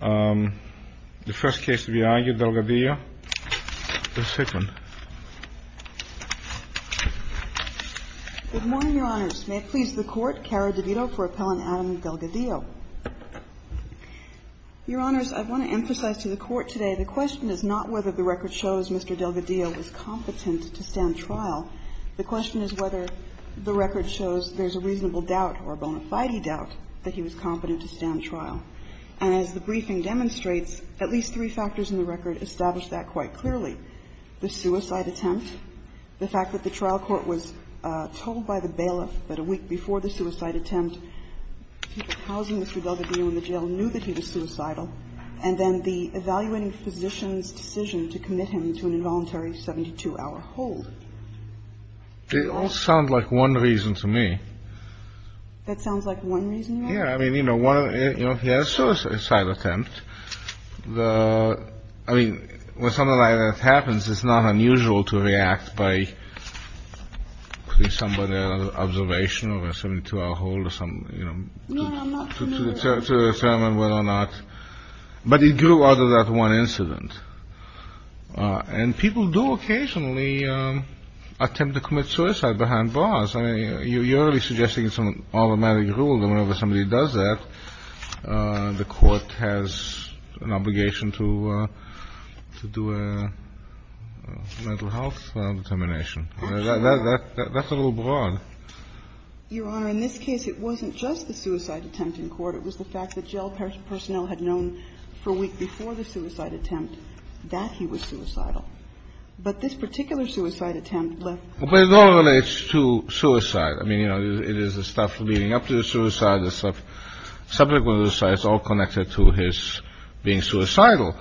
Good morning, Your Honors. May it please the Court, Cara DeVito for appellant Adam Delgadillo. Your Honors, I want to emphasize to the Court today the question is not whether the record shows Mr. Delgadillo was competent to stand trial. The question is whether the record shows there's a reasonable doubt or a bona fide doubt that he was competent to stand trial. And as the briefing demonstrates, at least three factors in the record establish that quite clearly. The suicide attempt, the fact that the trial court was told by the bailiff that a week before the suicide attempt, people housing Mr. Delgadillo in the jail knew that he was suicidal, and then the evaluating physician's decision to commit him to an involuntary 72-hour hold. It all sounds like one reason to me. That sounds like one reason to you? Yeah, I mean, you know, he had a suicide attempt. I mean, when something like that happens, it's not unusual to react by putting someone under observation or a 72-hour hold or something, you know, to determine whether or not. But it grew out of that one incident. And people do occasionally attempt to commit suicide behind bars. I mean, you're really suggesting some automatic rule that whenever somebody does that, the court has an obligation to do a mental health determination. That's a little broad. Your Honor, in this case, it wasn't just the suicide attempt in court. It was the fact that jail personnel had known for a week before the suicide attempt that he was suicidal. But this particular suicide attempt left no doubt. But it all relates to suicide. I mean, you know, it is the stuff leading up to the suicide, the subject of the suicide. It's all connected to his being suicidal.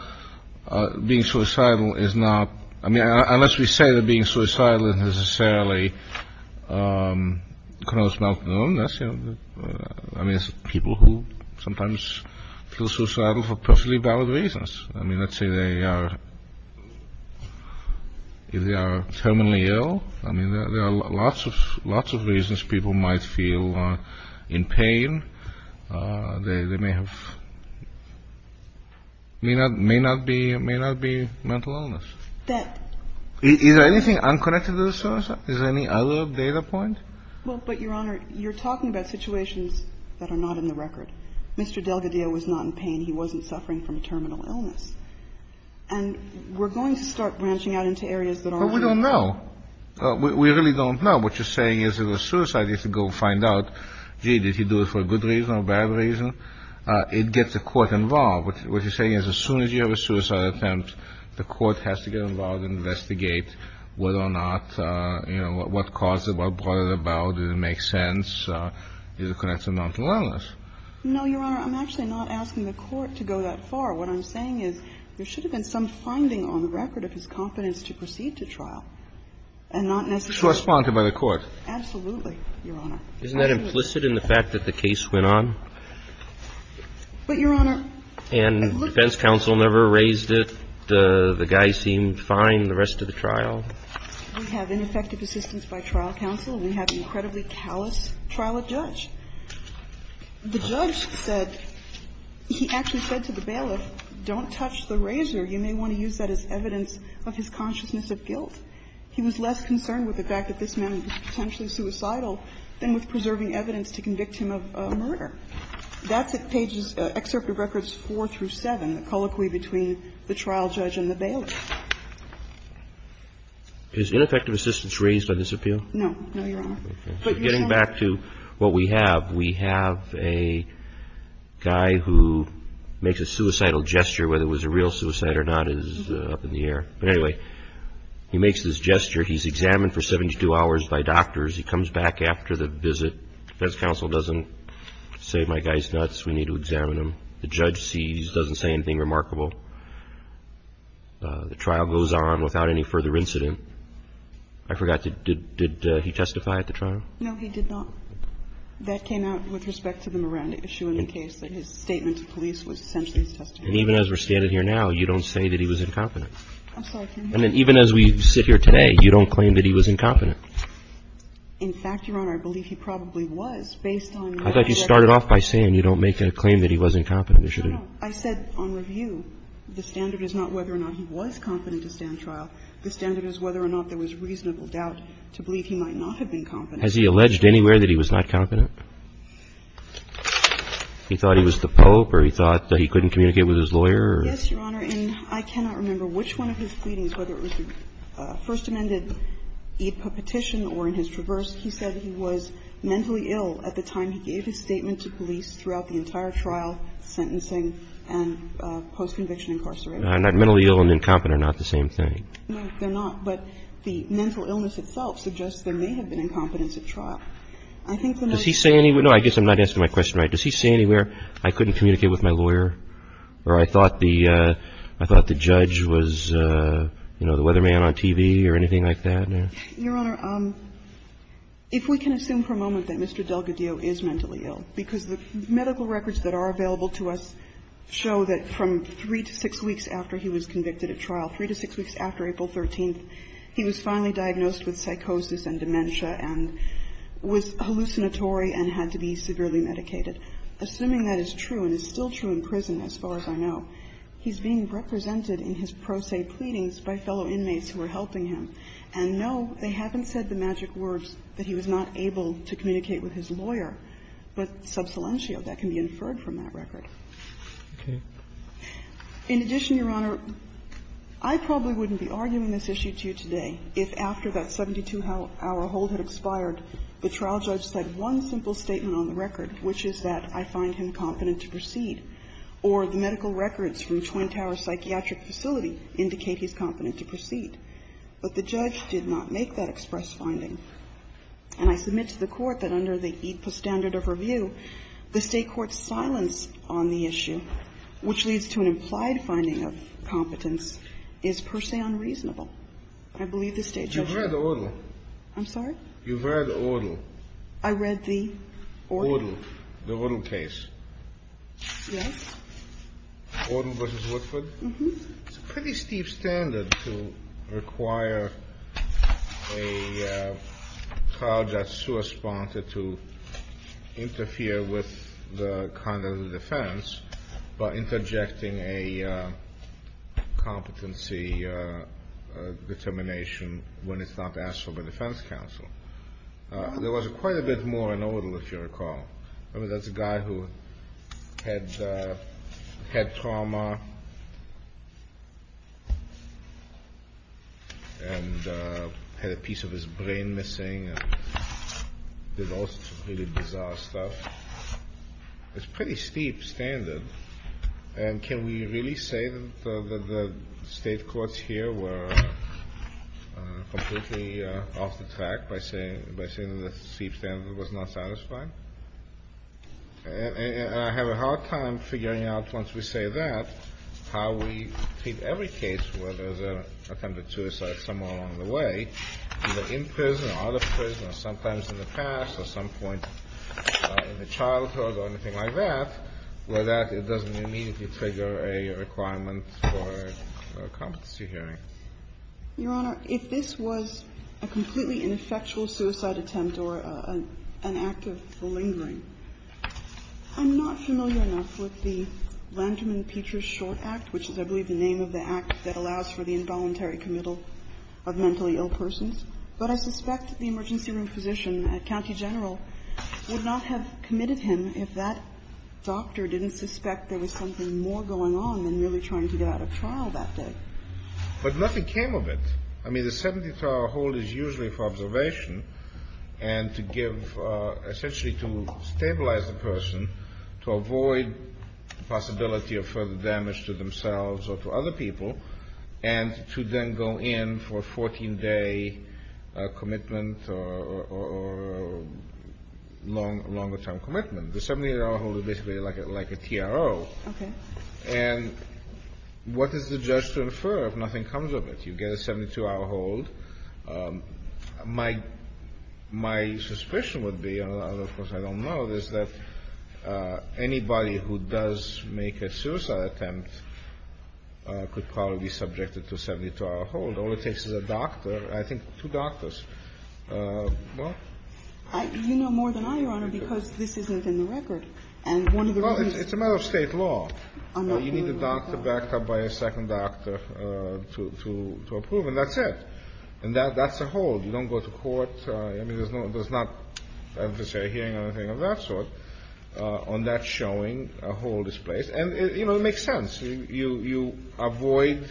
Being suicidal is not – I mean, unless we say that being suicidal is necessarily a cause of mental illness. I mean, it's people who sometimes feel suicidal for perfectly valid reasons. I mean, let's say they are terminally ill. I mean, there are lots of reasons people might feel in pain. They may have – may not be mental illness. Is there anything unconnected to the suicide? Is there any other data point? Well, but, Your Honor, you're talking about situations that are not in the record. Mr. Delgadillo was not in pain. He wasn't suffering from terminal illness. And we're going to start branching out into areas that aren't. But we don't know. We really don't know. What you're saying is if it was suicide, you have to go find out, gee, did he do it for a good reason or a bad reason? It gets the court involved. What you're saying is as soon as you have a suicide attempt, the court has to get involved and investigate whether or not, you know, what caused it, what brought it about, did it make sense, is it connected to mental illness? No, Your Honor. I'm actually not asking the court to go that far. What I'm saying is there should have been some finding on the record of his competence to proceed to trial and not necessarily – Correspond to by the court. Absolutely, Your Honor. Isn't that implicit in the fact that the case went on? But, Your Honor – And defense counsel never raised it. The guy seemed fine the rest of the trial. We have ineffective assistance by trial counsel. We have incredibly callous trial of judge. The judge said – he actually said to the bailiff, don't touch the razor. You may want to use that as evidence of his consciousness of guilt. He was less concerned with the fact that this man was potentially suicidal than with preserving evidence to convict him of murder. That's at pages – excerpt of records four through seven, the colloquy between the trial judge and the bailiff. Is ineffective assistance raised by this appeal? No. No, Your Honor. Getting back to what we have, we have a guy who makes a suicidal gesture, whether it was a real suicide or not is up in the air. But anyway, he makes this gesture. He's examined for 72 hours by doctors. He comes back after the visit. Defense counsel doesn't say, my guy's nuts. We need to examine him. The judge sees, doesn't say anything remarkable. The trial goes on without any further incident. I forgot to – did he testify at the trial? No, he did not. That came out with respect to the Moran issue in the case, that his statement to police was essentially his testimony. And even as we're standing here now, you don't say that he was incompetent. I'm sorry. And even as we sit here today, you don't claim that he was incompetent. In fact, Your Honor, I believe he probably was, based on what I said earlier. I thought you started off by saying you don't make a claim that he was incompetent. No, no. I said on review, the standard is not whether or not he was competent to stand trial. The standard is whether or not there was reasonable doubt to believe he might not have been competent. Has he alleged anywhere that he was not competent? He thought he was the Pope or he thought that he couldn't communicate with his lawyer Yes, Your Honor. And I cannot remember which one of his pleadings, whether it was the First Amendment Petition or in his Traverse, he said he was mentally ill at the time he gave his statement to police throughout the entire trial, sentencing, and post-conviction incarceration. Mentally ill and incompetent are not the same thing. No, they're not. But the mental illness itself suggests there may have been incompetence at trial. I think the most – Does he say anywhere – no, I guess I'm not answering my question right. Does he say anywhere, I couldn't communicate with my lawyer or I thought the judge was, you know, the weatherman on TV or anything like that? Your Honor, if we can assume for a moment that Mr. Delgadillo is mentally ill, because the medical records that are available to us show that from three to six weeks after he was convicted at trial, three to six weeks after April 13th, he was finally diagnosed with psychosis and dementia and was hallucinatory and had to be severely medicated, assuming that is true and is still true in prison as far as I know. He's being represented in his pro se pleadings by fellow inmates who are helping him, and no, they haven't said the magic words that he was not able to communicate with his lawyer, but sub silentio, that can be inferred from that record. Okay. In addition, Your Honor, I probably wouldn't be arguing this issue to you today if after that 72-hour hold had expired, the trial judge said one simple statement on the record which is that I find him competent to proceed, or the medical records from Twin Tower Psychiatric Facility indicate he's competent to proceed. But the judge did not make that express finding. And I submit to the Court that under the EAPA standard of review, the State court's silence on the issue, which leads to an implied finding of competence, is per se unreasonable. I believe the State judge said that. You've read the order. I'm sorry? You've read the order. I read the order? The Odle case. Yes. Odle v. Woodford? Mm-hmm. It's a pretty steep standard to require a trial judge who is sponsored to interfere with the conduct of defense by interjecting a competency determination when it's not asked of a defense counsel. There was quite a bit more in Odle, if you recall. I mean, that's a guy who had trauma and had a piece of his brain missing and did all sorts of really bizarre stuff. It's a pretty steep standard. And can we really say that the State courts here were completely off the track by saying that the steep standard was not satisfying? And I have a hard time figuring out, once we say that, how we treat every case where there's an attempted suicide somewhere along the way, either in prison or out of prison or sometimes in the past or at some point in the childhood or anything like that, where that doesn't immediately trigger a requirement for a competency hearing. Your Honor, if this was a completely ineffectual suicide attempt or an act of flingering, I'm not familiar enough with the Lanterman-Peters Short Act, which is, I believe, the name of the act that allows for the involuntary committal of mentally ill persons. But I suspect the emergency room physician at County General would not have committed him if that doctor didn't suspect there was something more going on than really trying to get out of trial that day. But nothing came of it. I mean, the 72-hour hold is usually for observation and to give – essentially to stabilize the person, to avoid the possibility of further damage to themselves or to other people, and to then go in for a 14-day commitment or longer-term commitment. The 72-hour hold is basically like a TRO. Okay. And what is the judge to infer if nothing comes of it? You get a 72-hour hold. My – my suspicion would be, although of course I don't know, is that anybody who does make a suicide attempt could probably be subjected to a 72-hour hold. All it takes is a doctor, I think two doctors. Well? You know more than I, Your Honor, because this isn't in the record. And one of the reasons – Well, it's a matter of State law. I'm not familiar with that. You need a doctor backed up by a second doctor to approve, and that's it. And that's a hold. You don't go to court. I mean, there's no – there's not, I have to say, a hearing or anything of that sort. On that showing, a hold is placed. And, you know, it makes sense. You avoid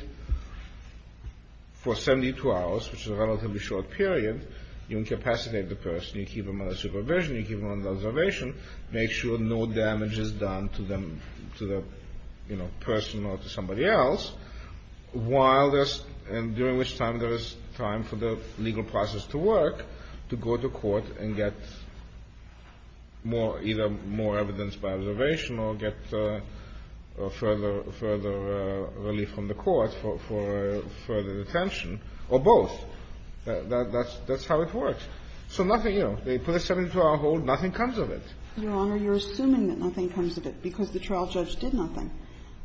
for 72 hours, which is a relatively short period, you incapacitate the person, you keep them under supervision, you keep them under observation, make sure no damage is done to them, to the, you know, person or to somebody else, while there's – and during which time there is time for the legal process to work, to go to court and get more – either more evidence by observation or get further relief from the court for further detention, or both. That's how it works. So nothing, you know, they put a 72-hour hold, nothing comes of it. Your Honor, you're assuming that nothing comes of it because the trial judge did nothing.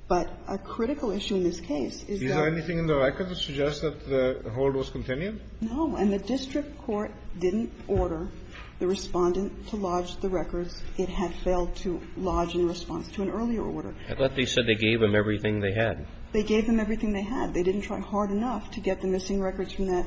But a critical issue in this case is that – Is there anything in the record that suggests that the hold was continued? No. And the district court didn't order the Respondent to lodge the records. It had failed to lodge in response to an earlier order. I thought they said they gave them everything they had. They gave them everything they had. They didn't try hard enough to get the missing records from that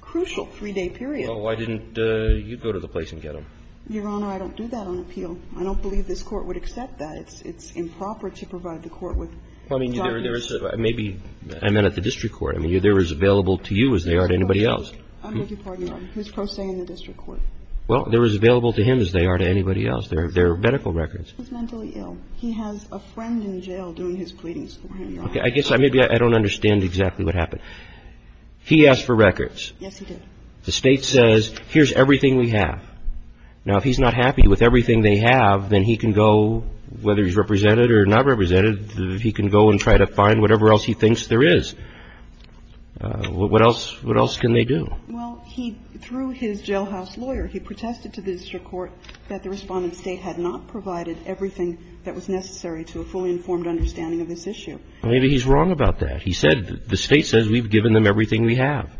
crucial 3-day period. Well, why didn't you go to the place and get them? Your Honor, I don't do that on appeal. I don't believe this Court would accept that. It's improper to provide the Court with documents. I mean, there is – maybe – I meant at the district court. I mean, they're as available to you as they are to anybody else. I beg your pardon, Your Honor. Who's pro se in the district court? Well, they're as available to him as they are to anybody else. They're medical records. He was mentally ill. He has a friend in jail doing his pleadings for him, Your Honor. Okay. I guess maybe I don't understand exactly what happened. He asked for records. Yes, he did. The State says here's everything we have. Now, if he's not happy with everything they have, then he can go, whether he's represented or not represented, he can go and try to find whatever else he thinks there is. What else can they do? Well, he – through his jailhouse lawyer, he protested to the district court that the Respondent's State had not provided everything that was necessary to a fully informed understanding of this issue. Maybe he's wrong about that. He said – the State says we've given them everything we have.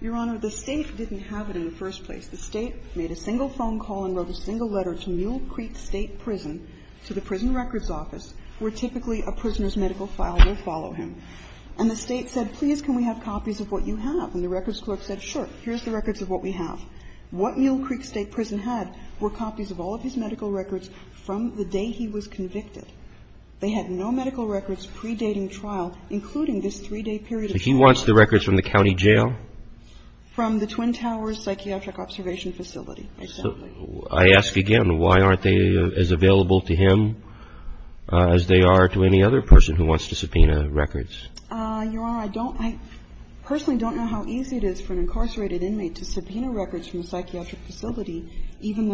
Your Honor, the State didn't have it in the first place. The State made a single phone call and wrote a single letter to Mule Creek State Prison, to the prison records office, where typically a prisoner's medical file would follow him. And the State said, please, can we have copies of what you have? And the records clerk said, sure, here's the records of what we have. What Mule Creek State Prison had were copies of all of his medical records from the day he was convicted. They had no medical records predating trial, including this three-day period of time. So he wants the records from the county jail? From the Twin Towers Psychiatric Observation Facility, exactly. I ask again, why aren't they as available to him as they are to any other person who wants to subpoena records? Your Honor, I don't – I personally don't know how easy it is for an incarcerated inmate to subpoena records from a psychiatric facility, even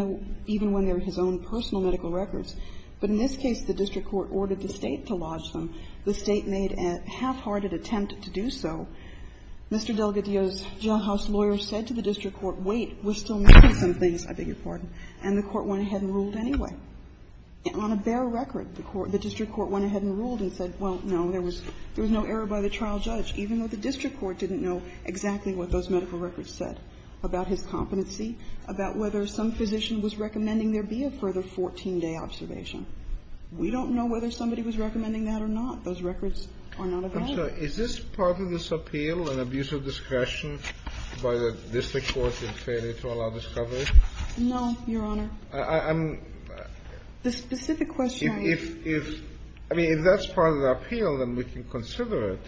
when they're his own personal medical records. But in this case, the district court ordered the State to lodge them. The State made a half-hearted attempt to do so. Mr. Delgadillo's jailhouse lawyer said to the district court, wait, we're still missing some things. I beg your pardon. And the court went ahead and ruled anyway. On a bare record, the court – the district court went ahead and ruled and said, well, no, there was no error by the trial judge, even though the district court didn't know exactly what those medical records said about his competency, about whether some physician was recommending there be a further 14-day observation. We don't know whether somebody was recommending that or not. Those records are not available. I'm sorry. Is this part of this appeal, an abuse of discretion by the district court in failure to allow discovery? No, Your Honor. I'm – The specific question I – If – I mean, if that's part of the appeal, then we can consider it.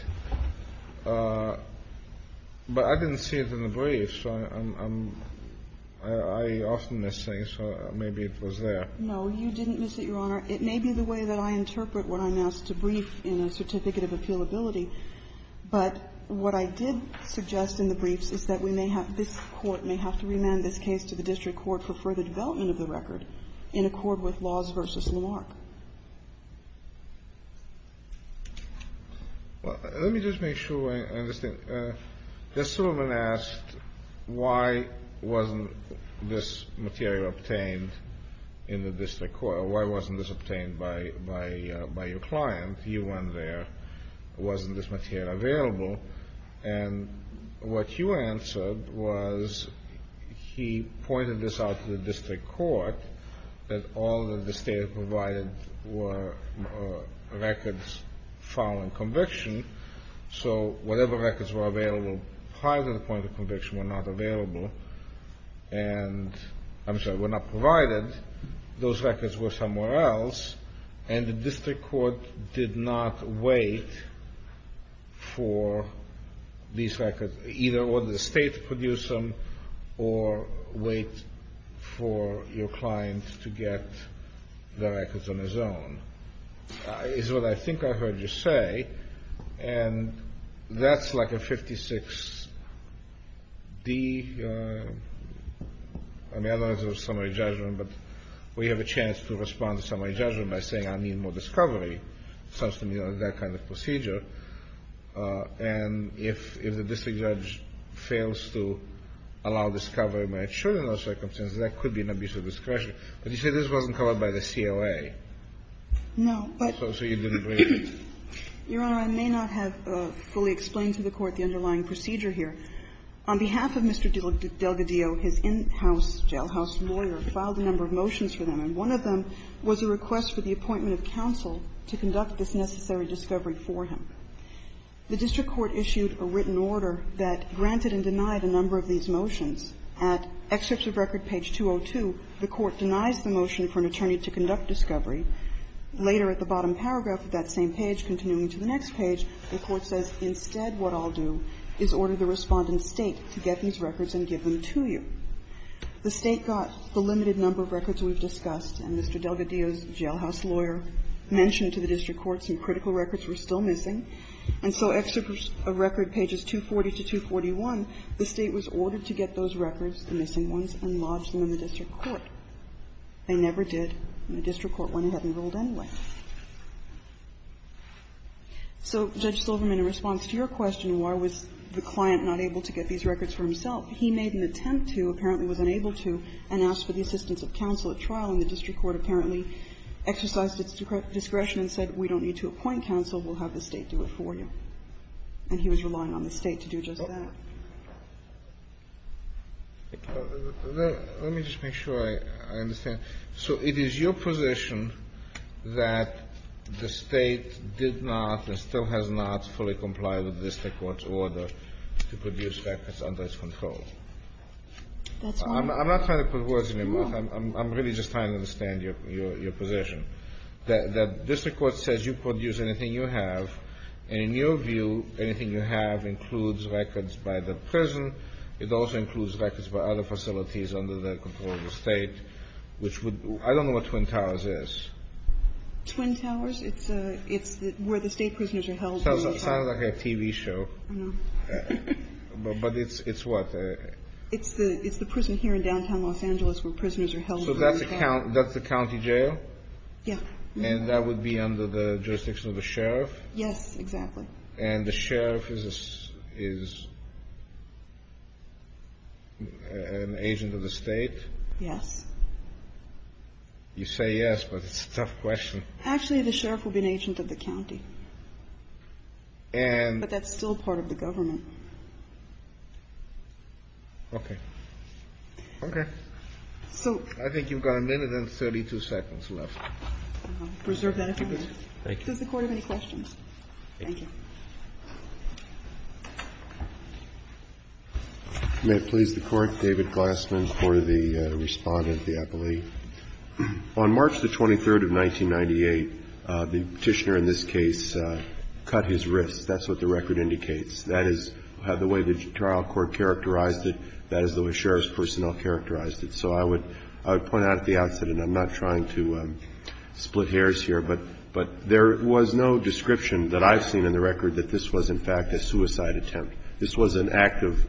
But I didn't see it in the brief, so I'm – I often miss things, so maybe it was there. No, you didn't miss it, Your Honor. It may be the way that I interpret what I'm asked to brief in a certificate of appealability. But what I did suggest in the briefs is that we may have – this Court may have to remand this case to the district court for further development of the record in accord with Laws v. Lamarck. Let me just make sure I understand. This woman asked why wasn't this material obtained in the district court or why wasn't this obtained by your client. You went there. Wasn't this material available? And what you answered was he pointed this out to the district court that all that the state had provided were records following conviction. So whatever records were available prior to the point of conviction were not available and – I'm sorry, were not provided. Those records were somewhere else, and the district court did not wait for these records, either or the state produced them or wait for your client to get the records on his own. It's what I think I heard you say, and that's like a 56-D. I mean, I don't know if it was summary judgment, but we have a chance to respond to summary judgment by saying I need more discovery. It sounds to me like that kind of procedure. And if the district judge fails to allow discovery when it should in those circumstances, that could be an abuse of discretion. But you said this wasn't covered by the CLA. No, but – So you didn't wait. Your Honor, I may not have fully explained to the Court the underlying procedure On behalf of Mr. Delgadillo, his in-house jailhouse lawyer filed a number of motions for them, and one of them was a request for the appointment of counsel to conduct this necessary discovery for him. The district court issued a written order that granted and denied a number of these motions. At excerpts of record page 202, the Court denies the motion for an attorney to conduct discovery. Later at the bottom paragraph of that same page, continuing to the next page, the Court says instead what I'll do is order the Respondent State to get these records and give them to you. The State got the limited number of records we've discussed, and Mr. Delgadillo's jailhouse lawyer mentioned to the district court some critical records were still missing, and so excerpts of record pages 240 to 241, the State was ordered to get those records, the missing ones, and lodge them in the district court. They never did, and the district court went ahead and ruled anyway. So Judge Silverman, in response to your question, why was the client not able to get these records for himself, he made an attempt to, apparently was unable to, and asked for the assistance of counsel at trial, and the district court apparently exercised its discretion and said we don't need to appoint counsel, we'll have the State do it for you. And he was relying on the State to do just that. Kennedy. Let me just make sure I understand. So it is your position that the State did not and still has not fully complied with the district court's order to produce records under its control? That's right. I'm not trying to put words in your mouth. I'm really just trying to understand your position. That district court says you produce anything you have, and in your view, anything you have includes records by the prison, it also includes records by other facilities under the control of the State, which would be – I don't know what Twin Towers is. Twin Towers? It's where the State prisoners are held. Sounds like a TV show. I know. But it's what? It's the prison here in downtown Los Angeles where prisoners are held. So that's a county jail? Yeah. And that would be under the jurisdiction of the sheriff? Yes, exactly. And the sheriff is an agent of the State? Yes. You say yes, but it's a tough question. Actually, the sheriff would be an agent of the county. But that's still part of the government. Okay. Okay. I think you've got a minute and 32 seconds left. Reserve that if you please. Thank you. Does the Court have any questions? Thank you. May it please the Court. David Glassman for the Respondent of the Appellee. On March the 23rd of 1998, the Petitioner in this case cut his wrist. That's what the record indicates. That is the way the trial court characterized it. That is the way sheriff's personnel characterized it. So I would point out at the outset, and I'm not trying to split hairs here, but there was no description that I've seen in the record that this was, in fact, a suicide attempt. This was an act of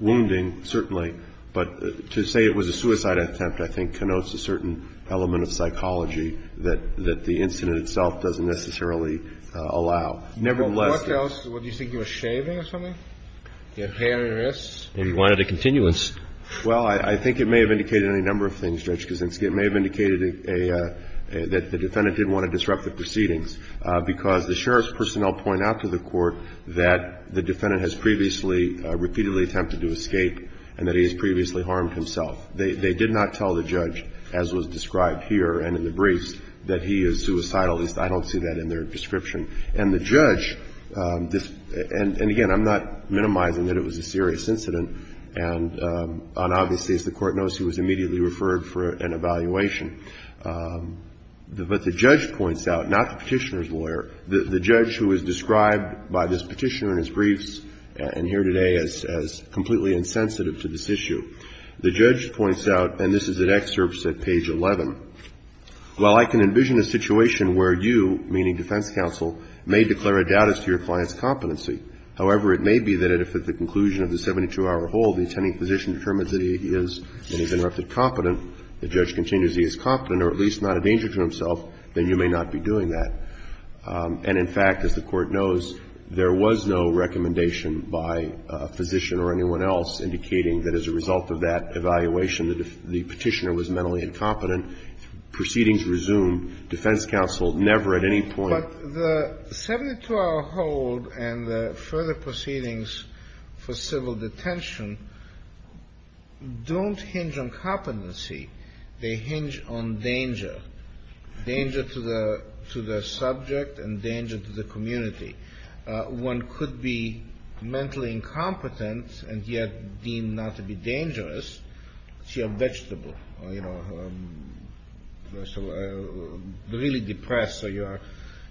wounding, certainly. But to say it was a suicide attempt, I think, connotes a certain element of psychology that the incident itself doesn't necessarily allow. Nevertheless — Well, what else? What, do you think he was shaving or something? He had hair in his wrist? Maybe he wanted a continuance. Well, I think it may have indicated any number of things, Judge Kaczynski. It may have indicated that the defendant didn't want to disrupt the proceedings because the sheriff's personnel point out to the Court that the defendant has previously repeatedly attempted to escape and that he has previously harmed himself. They did not tell the judge, as was described here and in the briefs, that he is suicidal. At least I don't see that in their description. And the judge — and again, I'm not minimizing that it was a serious incident. And obviously, as the Court knows, he was immediately referred for an evaluation. But the judge points out, not the Petitioner's lawyer, the judge who was described by this Petitioner in his briefs and here today as completely insensitive to this issue, the judge points out, and this is in excerpts at page 11, while I can envision a situation where you, meaning defense counsel, may declare a doubt as to your client's competency. However, it may be that if at the conclusion of the 72-hour hold the attending physician determines that he is, and he's interrupted, competent, the judge continues he is competent or at least not a danger to himself, then you may not be doing that. And in fact, as the Court knows, there was no recommendation by a physician or anyone else indicating that as a result of that evaluation that the Petitioner was mentally incompetent. Proceedings resume. Defense counsel never at any point — further proceedings for civil detention don't hinge on competency. They hinge on danger, danger to the subject and danger to the community. One could be mentally incompetent and yet deemed not to be dangerous. So you're a vegetable. You're, you know, really depressed, so you're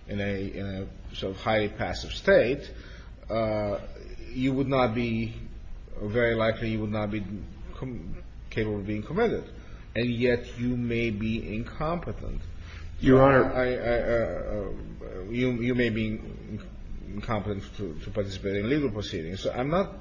in a sort of highly passive state. You would not be — very likely you would not be capable of being committed. And yet you may be incompetent. Your Honor — You may be incompetent to participate in legal proceedings. I'm not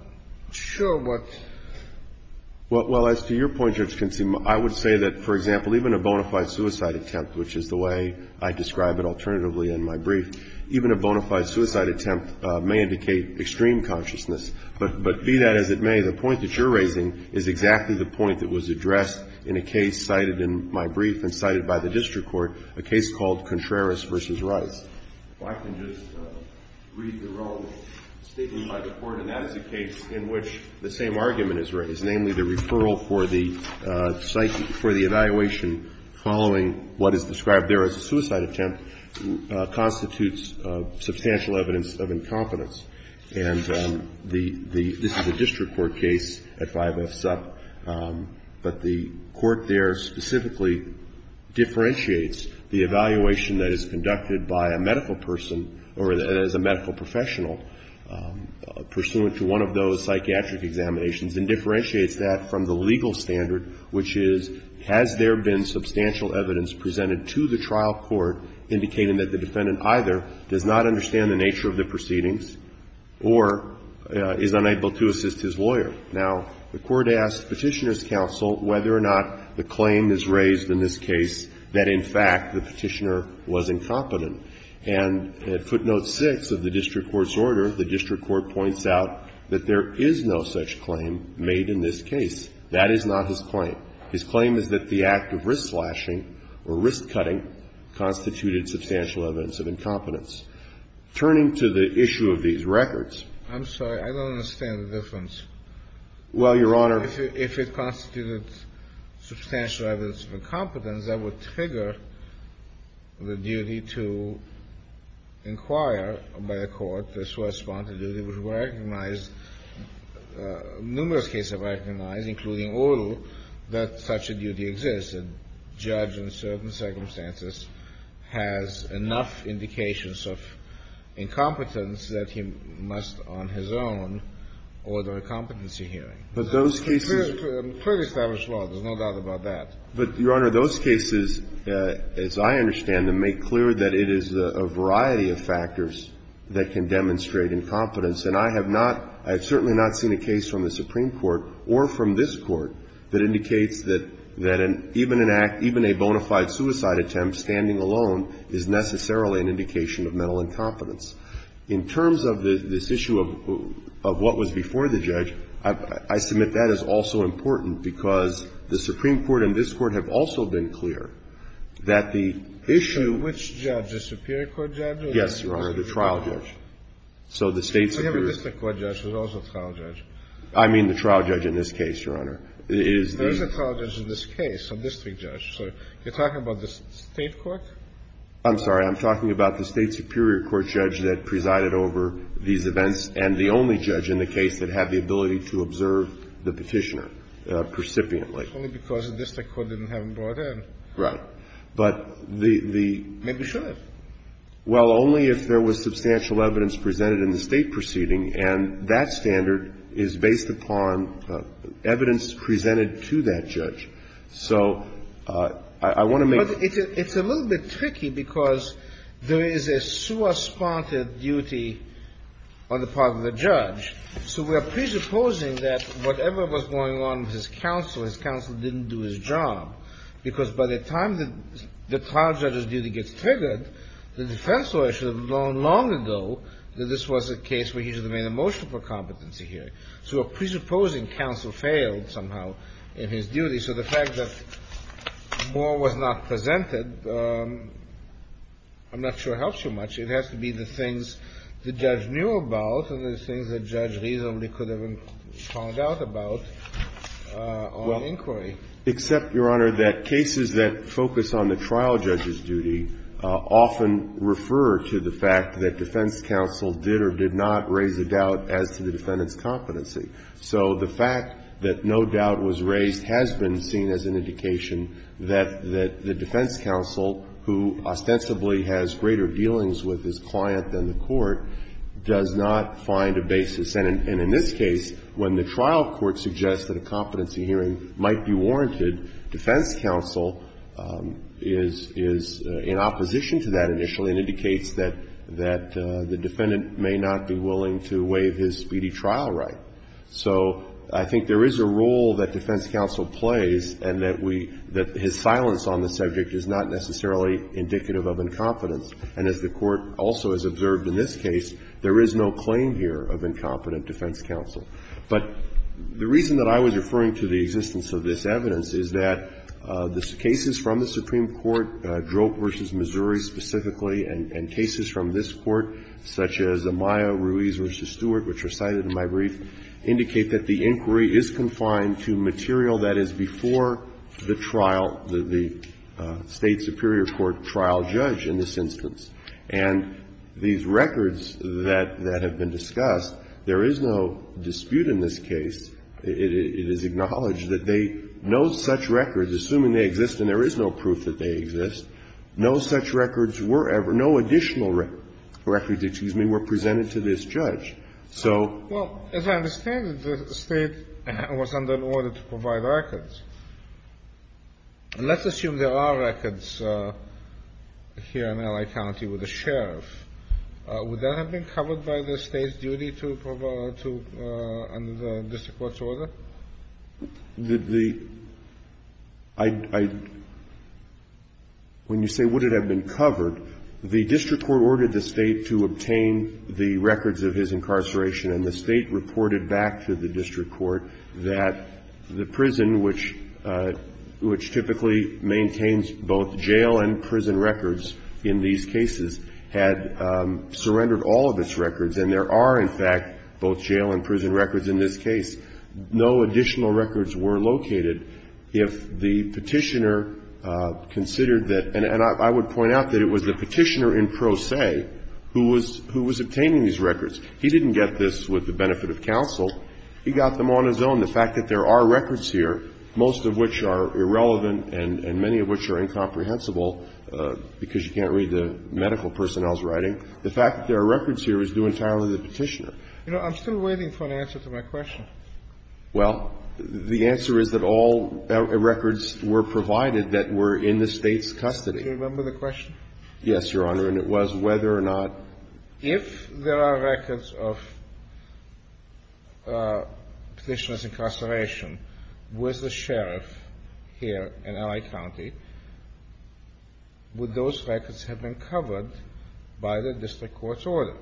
sure what — Well, as to your point, Your Excellency, I would say that, for example, even a bona fide suicide attempt, which is the way I describe it alternatively in my brief, even a bona fide suicide attempt may indicate extreme consciousness. But be that as it may, the point that you're raising is exactly the point that was addressed in a case cited in my brief and cited by the district court, a case called Contreras v. Rice. If I can just read the relevant statement by the Court, and that is a case in which the same argument is raised, namely the referral for the evaluation following what is described there as a suicide attempt constitutes substantial evidence of incompetence. And the — this is a district court case at 5F Sup. But the court there specifically differentiates the evaluation that is conducted by a medical person or as a medical professional pursuant to one of those psychiatric examinations and differentiates that from the legal standard, which is, has there been substantial evidence presented to the trial court indicating that the defendant either does not understand the nature of the proceedings or is unable to assist his lawyer? Now, the court asks Petitioner's counsel whether or not the claim is raised in this case that, in fact, the Petitioner was incompetent. And at footnote 6 of the district court's order, the district court points out that there is no such claim made in this case. That is not his claim. His claim is that the act of wrist slashing or wrist cutting constituted substantial evidence of incompetence. Turning to the issue of these records — I'm sorry. I don't understand the difference. Well, Your Honor — If it constituted substantial evidence of incompetence, that would trigger the duty to inquire by the court the source of the duty, which were recognized, numerous cases were recognized, including oral, that such a duty existed. A judge in certain circumstances has enough indications of incompetence that he must on his own order a competency hearing. But those cases — It's a clearly established law. There's no doubt about that. But, Your Honor, those cases, as I understand them, make clear that it is a variety of factors that can demonstrate incompetence. And I have not — I have certainly not seen a case from the Supreme Court or from this Court that indicates that even an act — even a bona fide suicide attempt standing alone is necessarily an indication of mental incompetence. In terms of this issue of what was before the judge, I submit that is also important, because the Supreme Court and this Court have also been clear that the issue — So which judge? The Superior Court judge? Yes, Your Honor. The trial judge. So the State Superior — So you have a district court judge who's also a trial judge. I mean the trial judge in this case, Your Honor. It is the — There is a trial judge in this case, a district judge. So you're talking about the State court? I'm sorry. I'm talking about the State Superior Court judge that presided over these events and the only judge in the case that had the ability to observe the Petitioner precipiently. Only because the district court didn't have him brought in. Right. But the — Maybe should have. Well, only if there was substantial evidence presented in the State proceeding, and that standard is based upon evidence presented to that judge. So I want to make — It's a little bit tricky because there is a sua sponta duty on the part of the judge. So we are presupposing that whatever was going on with his counsel, his counsel didn't do his job, because by the time the trial judge's duty gets triggered, the defense lawyer should have known long ago that this was a case where he should have made a motion for competency hearing. So we're presupposing counsel failed somehow in his duty. So the fact that more was not presented, I'm not sure helps you much. It has to be the things the judge knew about and the things the judge reasonably could have found out about on inquiry. Except, Your Honor, that cases that focus on the trial judge's duty often refer to the fact that defense counsel did or did not raise a doubt as to the defendant's competency. So the fact that no doubt was raised has been seen as an indication that the defense counsel, who ostensibly has greater dealings with his client than the court, does not find a basis. And in this case, when the trial court suggests that a competency hearing might be warranted, defense counsel is in opposition to that initially and indicates that the defendant may not be willing to waive his speedy trial right. So I think there is a role that defense counsel plays and that we – that his silence on the subject is not necessarily indicative of incompetence. And as the Court also has observed in this case, there is no claim here of incompetent defense counsel. But the reason that I was referring to the existence of this evidence is that the cases from the Supreme Court, Droke v. Missouri specifically, and cases from this Court, such as Amaya Ruiz v. Stewart, which are cited in my brief, indicate that the inquiry is confined to material that is before the trial, the State superior court trial judge in this instance. And these records that have been discussed, there is no dispute in this case. It is acknowledged that they – no such records, assuming they exist and there is no proof that they exist, no such records were ever – no additional records, excuse me, were presented to this judge. So – Well, as I understand it, the State was under an order to provide records. And let's assume there are records here in L.A. County with a sheriff. Would that have been covered by the State's duty to provide – to – under the district court's order? The – I – when you say would it have been covered, the district court ordered the State to obtain the records of his incarceration, and the State reported back to the district court that the prison, which typically maintains both jail and prison records in this case, no additional records were located if the Petitioner considered that – and I would point out that it was the Petitioner in pro se who was obtaining these records. He didn't get this with the benefit of counsel. He got them on his own. The fact that there are records here, most of which are irrelevant and many of which are incomprehensible because you can't read the medical personnel's writing, the fact that there are records here is due entirely to the Petitioner. You know, I'm still waiting for an answer to my question. Well, the answer is that all records were provided that were in the State's custody. Do you remember the question? Yes, Your Honor, and it was whether or not – If there are records of Petitioner's incarceration with the sheriff here in L.A. County, would those records have been covered by the district court's order?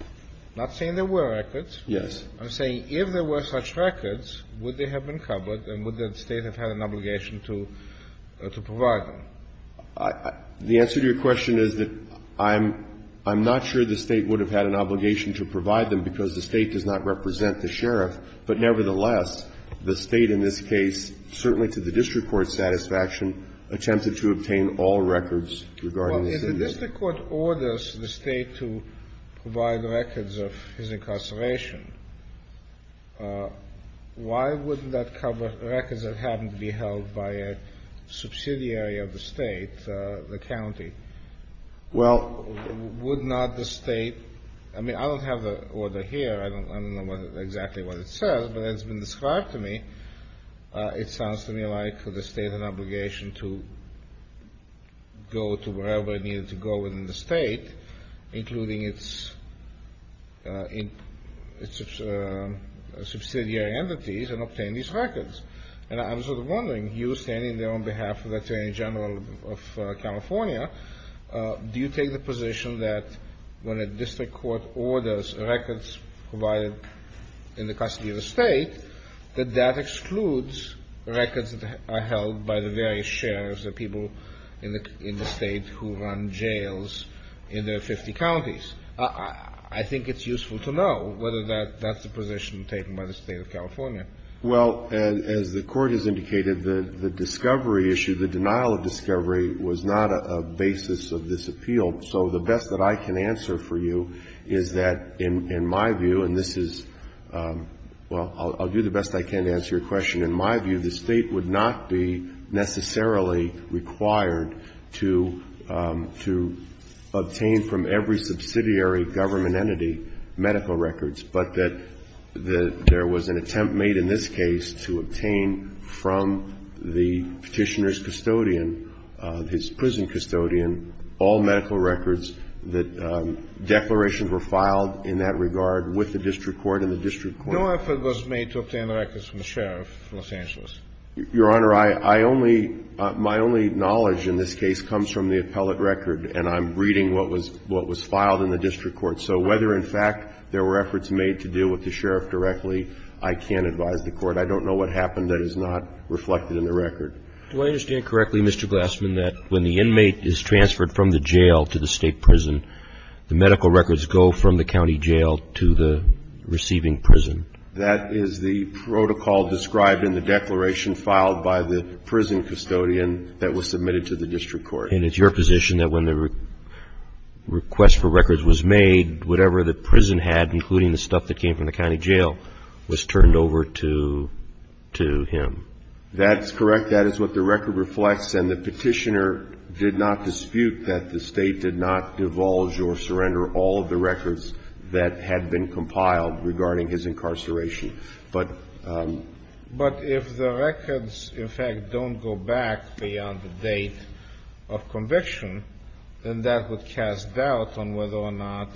I'm not saying there were records. Yes. I'm saying if there were such records, would they have been covered and would the State have had an obligation to provide them? The answer to your question is that I'm not sure the State would have had an obligation to provide them because the State does not represent the sheriff. But nevertheless, the State in this case, certainly to the district court's satisfaction, attempted to obtain all records regarding the citizen. Well, if the district court orders the State to provide records of his incarceration, why wouldn't that cover records that happened to be held by a subsidiary of the State, the county? Well – Would not the State – I mean, I don't have the order here. I don't know exactly what it says, but it's been described to me. It sounds to me like the State had an obligation to go to wherever it needed to go within the State, including its subsidiary entities, and obtain these records. And I'm sort of wondering, you standing there on behalf of the Attorney General of California, do you take the position that when a district court orders records provided in the custody of the State, that that excludes records that are held by the various sheriffs, the people in the State who run jails in their 50 counties? I think it's useful to know whether that's the position taken by the State of California. Well, as the Court has indicated, the discovery issue, the denial of discovery, was not a basis of this appeal. So the best that I can answer for you is that, in my view, and this is – well, I'll do the best I can to answer your question. In my view, the State would not be necessarily required to obtain from every subsidiary government entity medical records, but that there was an attempt made in this case to obtain from the Petitioner's record, his prison custodian, all medical records that declarations were filed in that regard with the district court and the district court. No effort was made to obtain records from the sheriff of Los Angeles. Your Honor, I only – my only knowledge in this case comes from the appellate record, and I'm reading what was – what was filed in the district court. So whether, in fact, there were efforts made to deal with the sheriff directly, I can't advise the Court. I don't know what happened that is not reflected in the record. Do I understand correctly, Mr. Glassman, that when the inmate is transferred from the jail to the State prison, the medical records go from the county jail to the receiving prison? That is the protocol described in the declaration filed by the prison custodian that was submitted to the district court. And it's your position that when the request for records was made, whatever the prison had, including the stuff that came from the county jail, was turned over to – to him? That's correct. That is what the record reflects, and the Petitioner did not dispute that the State did not divulge or surrender all of the records that had been compiled regarding his incarceration. But if the records, in fact, don't go back beyond the date of conviction, then that would cast doubt on whether or not,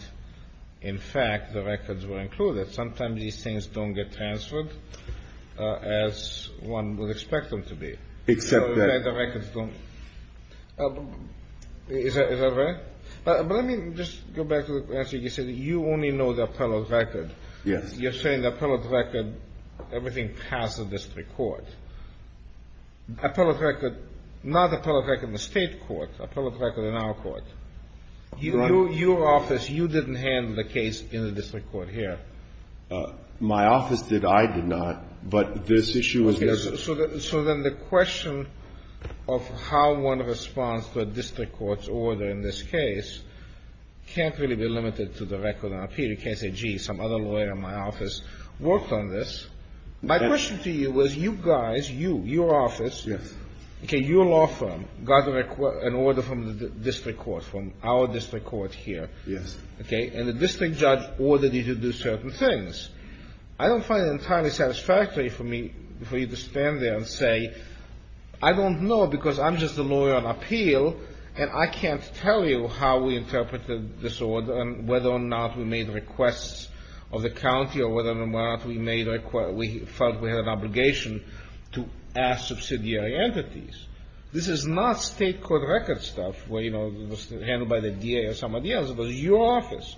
in fact, the records were included. Sometimes these things don't get transferred as one would expect them to be. Except that. The records don't – is that right? But let me just go back to the question. You said that you only know the appellate record. Yes. You're saying the appellate record, everything passed the district court. Appellate record – not appellate record in the State court, appellate record in our court. Your office, you didn't handle the case in the district court here. My office did. I did not. But this issue was – Okay. So then the question of how one responds to a district court's order in this case can't really be limited to the record on appeal. You can't say, gee, some other lawyer in my office worked on this. My question to you was you guys, you, your office – Yes. Okay. Your law firm got an order from the district court, from our district court here. Yes. Okay. And the district judge ordered you to do certain things. I don't find it entirely satisfactory for me for you to stand there and say, I don't know because I'm just a lawyer on appeal, and I can't tell you how we interpreted this order and whether or not we made requests of the county or whether or not we made – we felt we had an obligation to ask subsidiary entities. This is not State court record stuff where, you know, it was handled by the DA or somebody else. It was your office,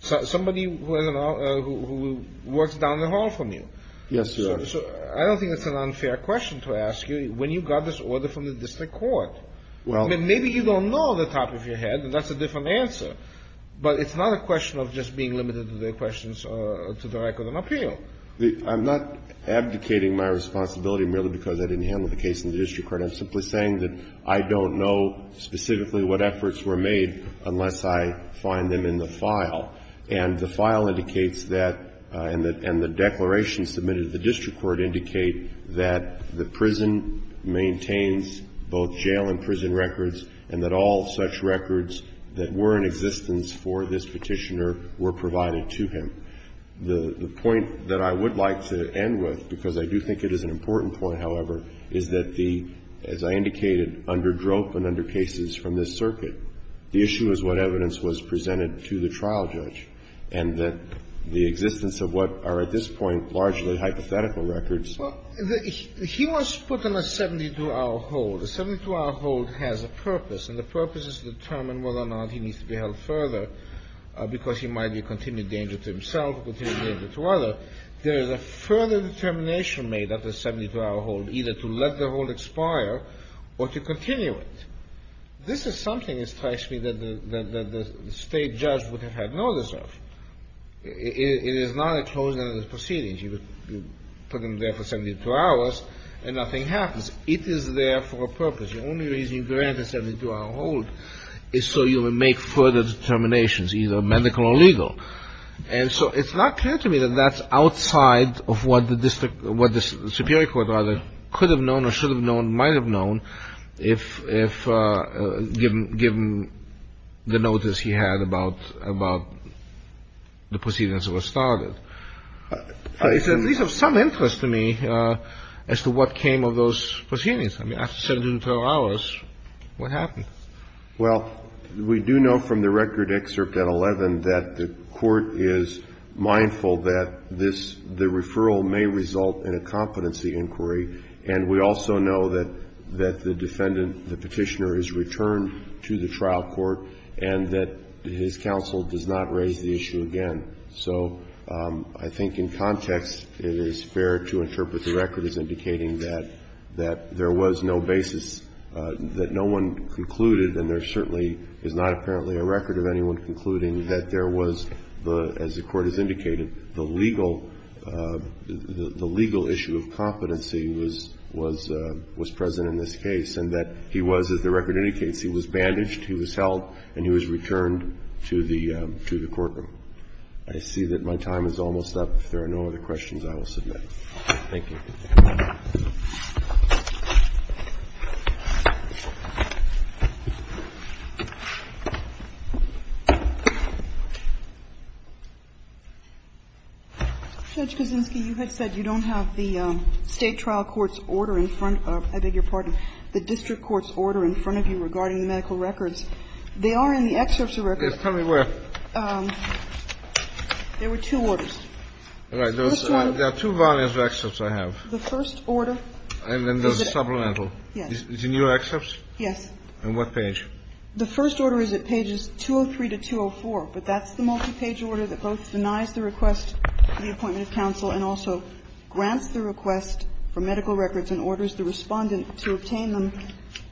somebody who works down the hall from you. Yes, Your Honor. So I don't think it's an unfair question to ask you when you got this order from the district court. Well – I mean, maybe you don't know off the top of your head, and that's a different answer, but it's not a question of just being limited to the questions to the record on appeal. I'm not abdicating my responsibility merely because I didn't handle the case in the district court. I'm simply saying that I don't know specifically what efforts were made unless I find them in the file. And the file indicates that, and the declaration submitted at the district court indicate that the prison maintains both jail and prison records and that all such records that were in existence for this petitioner were provided to him. The point that I would like to end with, because I do think it is an important point, however, is that the – as I indicated, under drop and under cases from this circuit, the issue is what evidence was presented to the trial judge and that the existence of what are at this point largely hypothetical records. Well, he was put on a 72-hour hold. A 72-hour hold has a purpose, and the purpose is to determine whether or not he needs to be held further because he might be a continued danger to himself, a continued danger to others. However, there is a further determination made at the 72-hour hold either to let the hold expire or to continue it. This is something, it strikes me, that the State judge would have had notice of. It is not enclosed under the proceedings. You put him there for 72 hours and nothing happens. It is there for a purpose. The only reason you grant a 72-hour hold is so you would make further determinations, either medical or legal. And so it's not clear to me that that's outside of what the district – what the Superior Court, rather, could have known or should have known, might have known, if given the notice he had about the proceedings that were started. It's at least of some interest to me as to what came of those proceedings. I mean, after 72 hours, what happened? Well, we do know from the record excerpt at 11 that the court is mindful that this – the referral may result in a competency inquiry. And we also know that the defendant, the Petitioner, is returned to the trial court and that his counsel does not raise the issue again. So I think in context, it is fair to interpret the record as indicating that there was no basis that no one concluded, and there certainly is not apparently a record of anyone concluding that there was, as the Court has indicated, the legal issue of competency was present in this case, and that he was, as the record indicates, he was bandaged, he was held, and he was returned to the courtroom. I see that my time is almost up. If there are no other questions, I will submit. Thank you. Judge Kaczynski, you had said you don't have the State trial court's order in front of – I beg your pardon, the district court's order in front of you regarding the medical records. They are in the excerpts of records. Yes. Tell me where. There were two orders. All right. There are two volumes of excerpts I have. The first order is at page 203-204, but that's the multipage order that both denies the request for the appointment of counsel and also grants the request for medical records and orders the Respondent to obtain them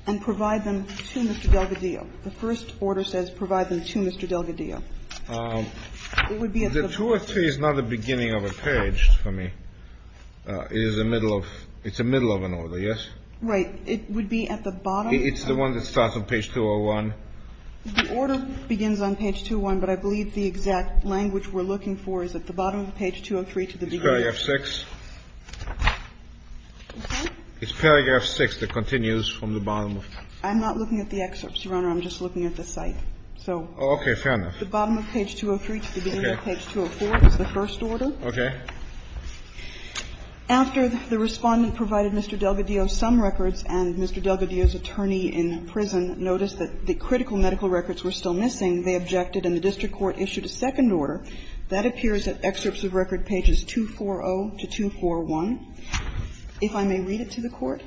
and provide them to Mr. Delgadillo. The first order says provide them to Mr. Delgadillo. It would be at the first page. The 203 is not the beginning of a page for me. It is the middle of – it's the middle of an order, yes? Right. It would be at the bottom. It's the one that starts on page 201. The order begins on page 201, but I believe the exact language we're looking for is at the bottom of page 203 to the beginning. It's paragraph 6. Okay. It's paragraph 6 that continues from the bottom. I'm not looking at the excerpts, Your Honor. I'm just looking at the site. Oh, okay. Fair enough. The bottom of page 203 to the beginning of page 204 is the first order. Okay. After the Respondent provided Mr. Delgadillo some records and Mr. Delgadillo's attorney in prison noticed that the critical medical records were still missing, they objected and the district court issued a second order. That appears at excerpts of record pages 240 to 241. If I may read it to the Court,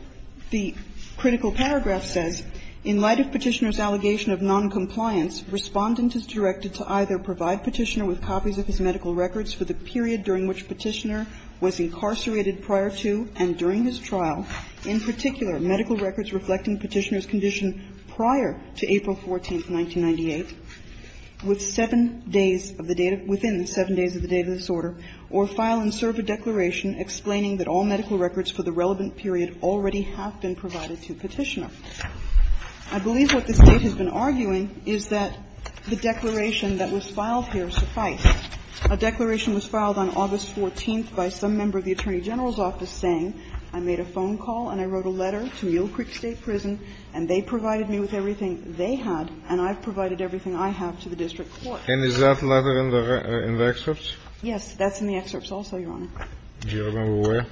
the critical paragraph says, In light of Petitioner's allegation of noncompliance, Respondent is directed to either provide Petitioner with copies of his medical records for the period during which Petitioner was incarcerated prior to and during his trial, in particular medical records reflecting Petitioner's condition prior to April 14th, 1998, within seven days of the date of the disorder, or file and serve a declaration explaining that all medical records for the relevant period already have been provided to Petitioner. I believe what the State has been arguing is that the declaration that was filed here sufficed. A declaration was filed on August 14th by some member of the Attorney General's office saying, I made a phone call and I wrote a letter to Mill Creek State Prison and they provided me with everything they had and I've provided everything I have to the district court. And is that letter in the excerpts? Yes. That's in the excerpts also, Your Honor. Do you remember where?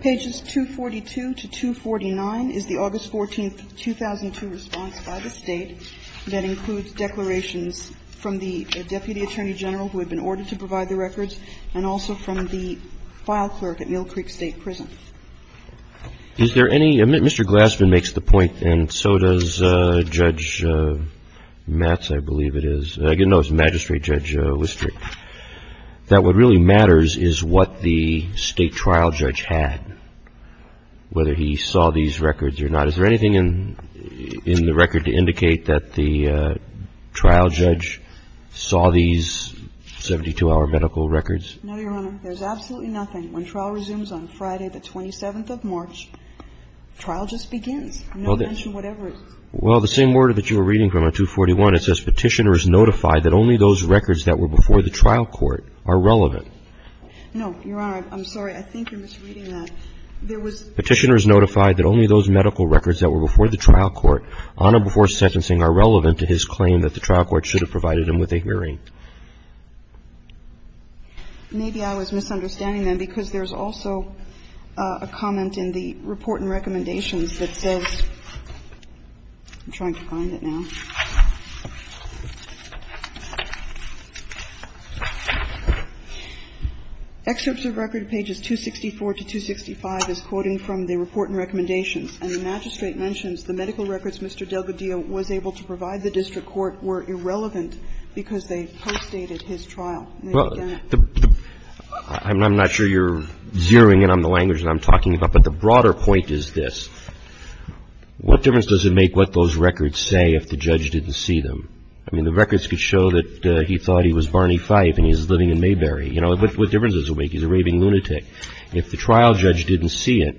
Pages 242 to 249 is the August 14th, 2002 response by the State that includes declarations from the Deputy Attorney General who had been ordered to provide the records and also from the file clerk at Mill Creek State Prison. Is there any, Mr. Glassman makes the point and so does Judge Matz, I believe it is, I didn't know it was Magistrate Judge Lister, that what really matters is what the State trial judge had, whether he saw these records or not. Is there anything in the record to indicate that the trial judge saw these 72-hour medical records? No, Your Honor. There's absolutely nothing. When trial resumes on Friday the 27th of March, trial just begins. I'm not going to mention whatever it is. Well, the same order that you were reading from on 241, it says Petitioner is notified that only those records that were before the trial court are relevant. No, Your Honor. I'm sorry. I think you're misreading that. There was. Petitioner is notified that only those medical records that were before the trial court on or before sentencing are relevant to his claim that the trial court should have provided him with a hearing. Maybe I was misunderstanding then because there's also a comment in the report and recommendations that says, I'm trying to find it now. Excerpts of record pages 264 to 265 is quoting from the report and recommendations. And the magistrate mentions the medical records Mr. Delgadillo was able to provide the district court were irrelevant because they postdated his trial. I'm not sure you're zeroing in on the language that I'm talking about, but the broader point is this. What difference does it make what those records say if the judge didn't see them? I mean, the records could show that he thought he was Barney Fife and he's living in Mayberry. You know, what difference does it make? He's a raving lunatic. If the trial judge didn't see it,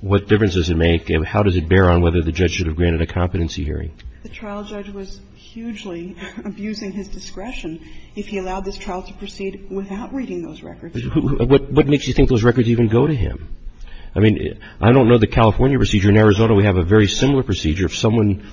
what difference does it make and how does it bear on whether the judge should have granted a competency hearing? The trial judge was hugely abusing his discretion if he allowed this trial to proceed without reading those records. What makes you think those records even go to him? I mean, I don't know the California procedure. In Arizona, we have a very similar procedure. If someone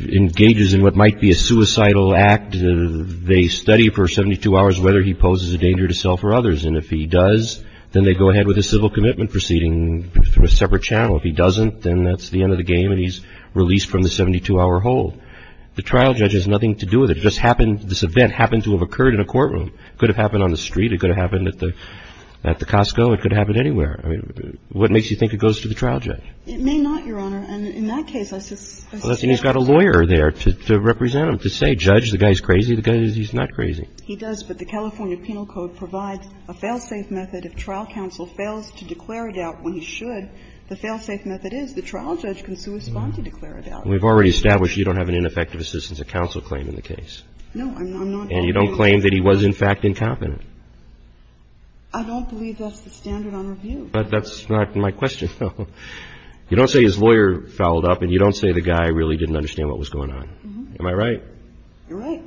engages in what might be a suicidal act, they study for 72 hours whether he poses a danger to self or others. And if he does, then they go ahead with a civil commitment proceeding through a separate channel. If he doesn't, then that's the end of the game and he's released from the 72-hour hold. The trial judge has nothing to do with it. It just happened, this event happened to have occurred in a courtroom. It could have happened on the street. It could have happened at the Costco. It could have happened anywhere. I mean, what makes you think it goes to the trial judge? It may not, Your Honor. And in that case, I suspect that's the case. Well, then he's got a lawyer there to represent him, to say, judge, the guy's crazy. The guy, he's not crazy. He does. But the California Penal Code provides a fail-safe method if trial counsel fails to declare a doubt when he should. The fail-safe method is the trial judge can suspend to declare a doubt. We've already established you don't have an ineffective assistance at counsel claim in the case. No, I'm not arguing that. And you don't claim that he was, in fact, incompetent. I don't believe that's the standard on review. But that's not my question. You don't say his lawyer fouled up and you don't say the guy really didn't understand what was going on. Am I right? You're right.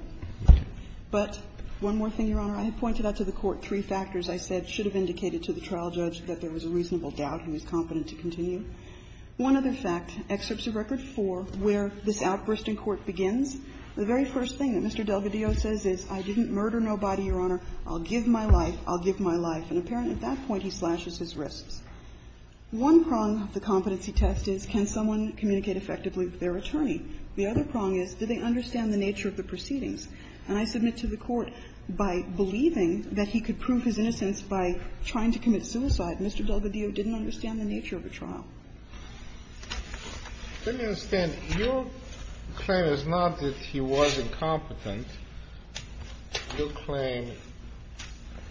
But one more thing, Your Honor. I had pointed out to the Court three factors I said should have indicated to the trial judge that there was a reasonable doubt he was competent to continue. One other fact, Excerpts of Record 4, where this outburst in court begins, the very first thing that Mr. Delvedio says is, I didn't murder nobody, Your Honor. I'll give my life. I'll give my life. And apparently, at that point, he slashes his wrists. One prong of the competency test is can someone communicate effectively with their attorney. The other prong is, did they understand the nature of the proceedings? And I submit to the Court, by believing that he could prove his innocence by trying to commit suicide, Mr. Delvedio didn't understand the nature of the trial. Let me understand. Your claim is not that he was incompetent. Your claim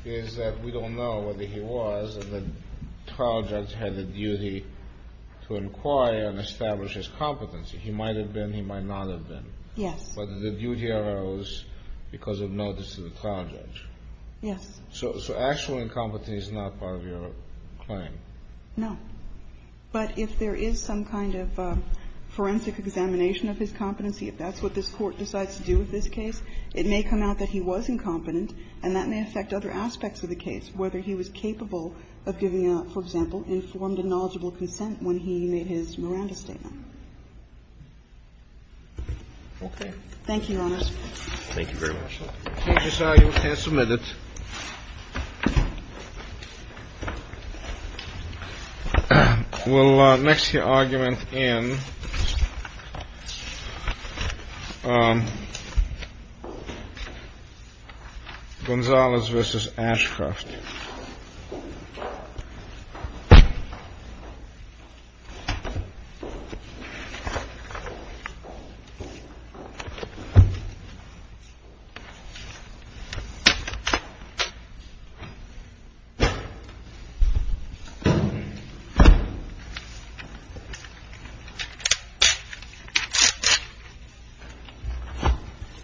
is that we don't know whether he was, and the trial judge had the duty to inquire and establish his competency. He might have been. He might not have been. Yes. But the duty arose because of notice to the trial judge. Yes. So actual incompetence is not part of your claim. No. But if there is some kind of forensic examination of his competency, if that's what this Court decides to do with this case, it may come out that he was incompetent and that may affect other aspects of the case, whether he was capable of giving, for example, informed and knowledgeable consent when he made his Miranda statement. Okay. Thank you, Your Honors. Thank you very much. You can submit it. We'll next hear argument in. Gonzalez versus Ashcroft. Thank you.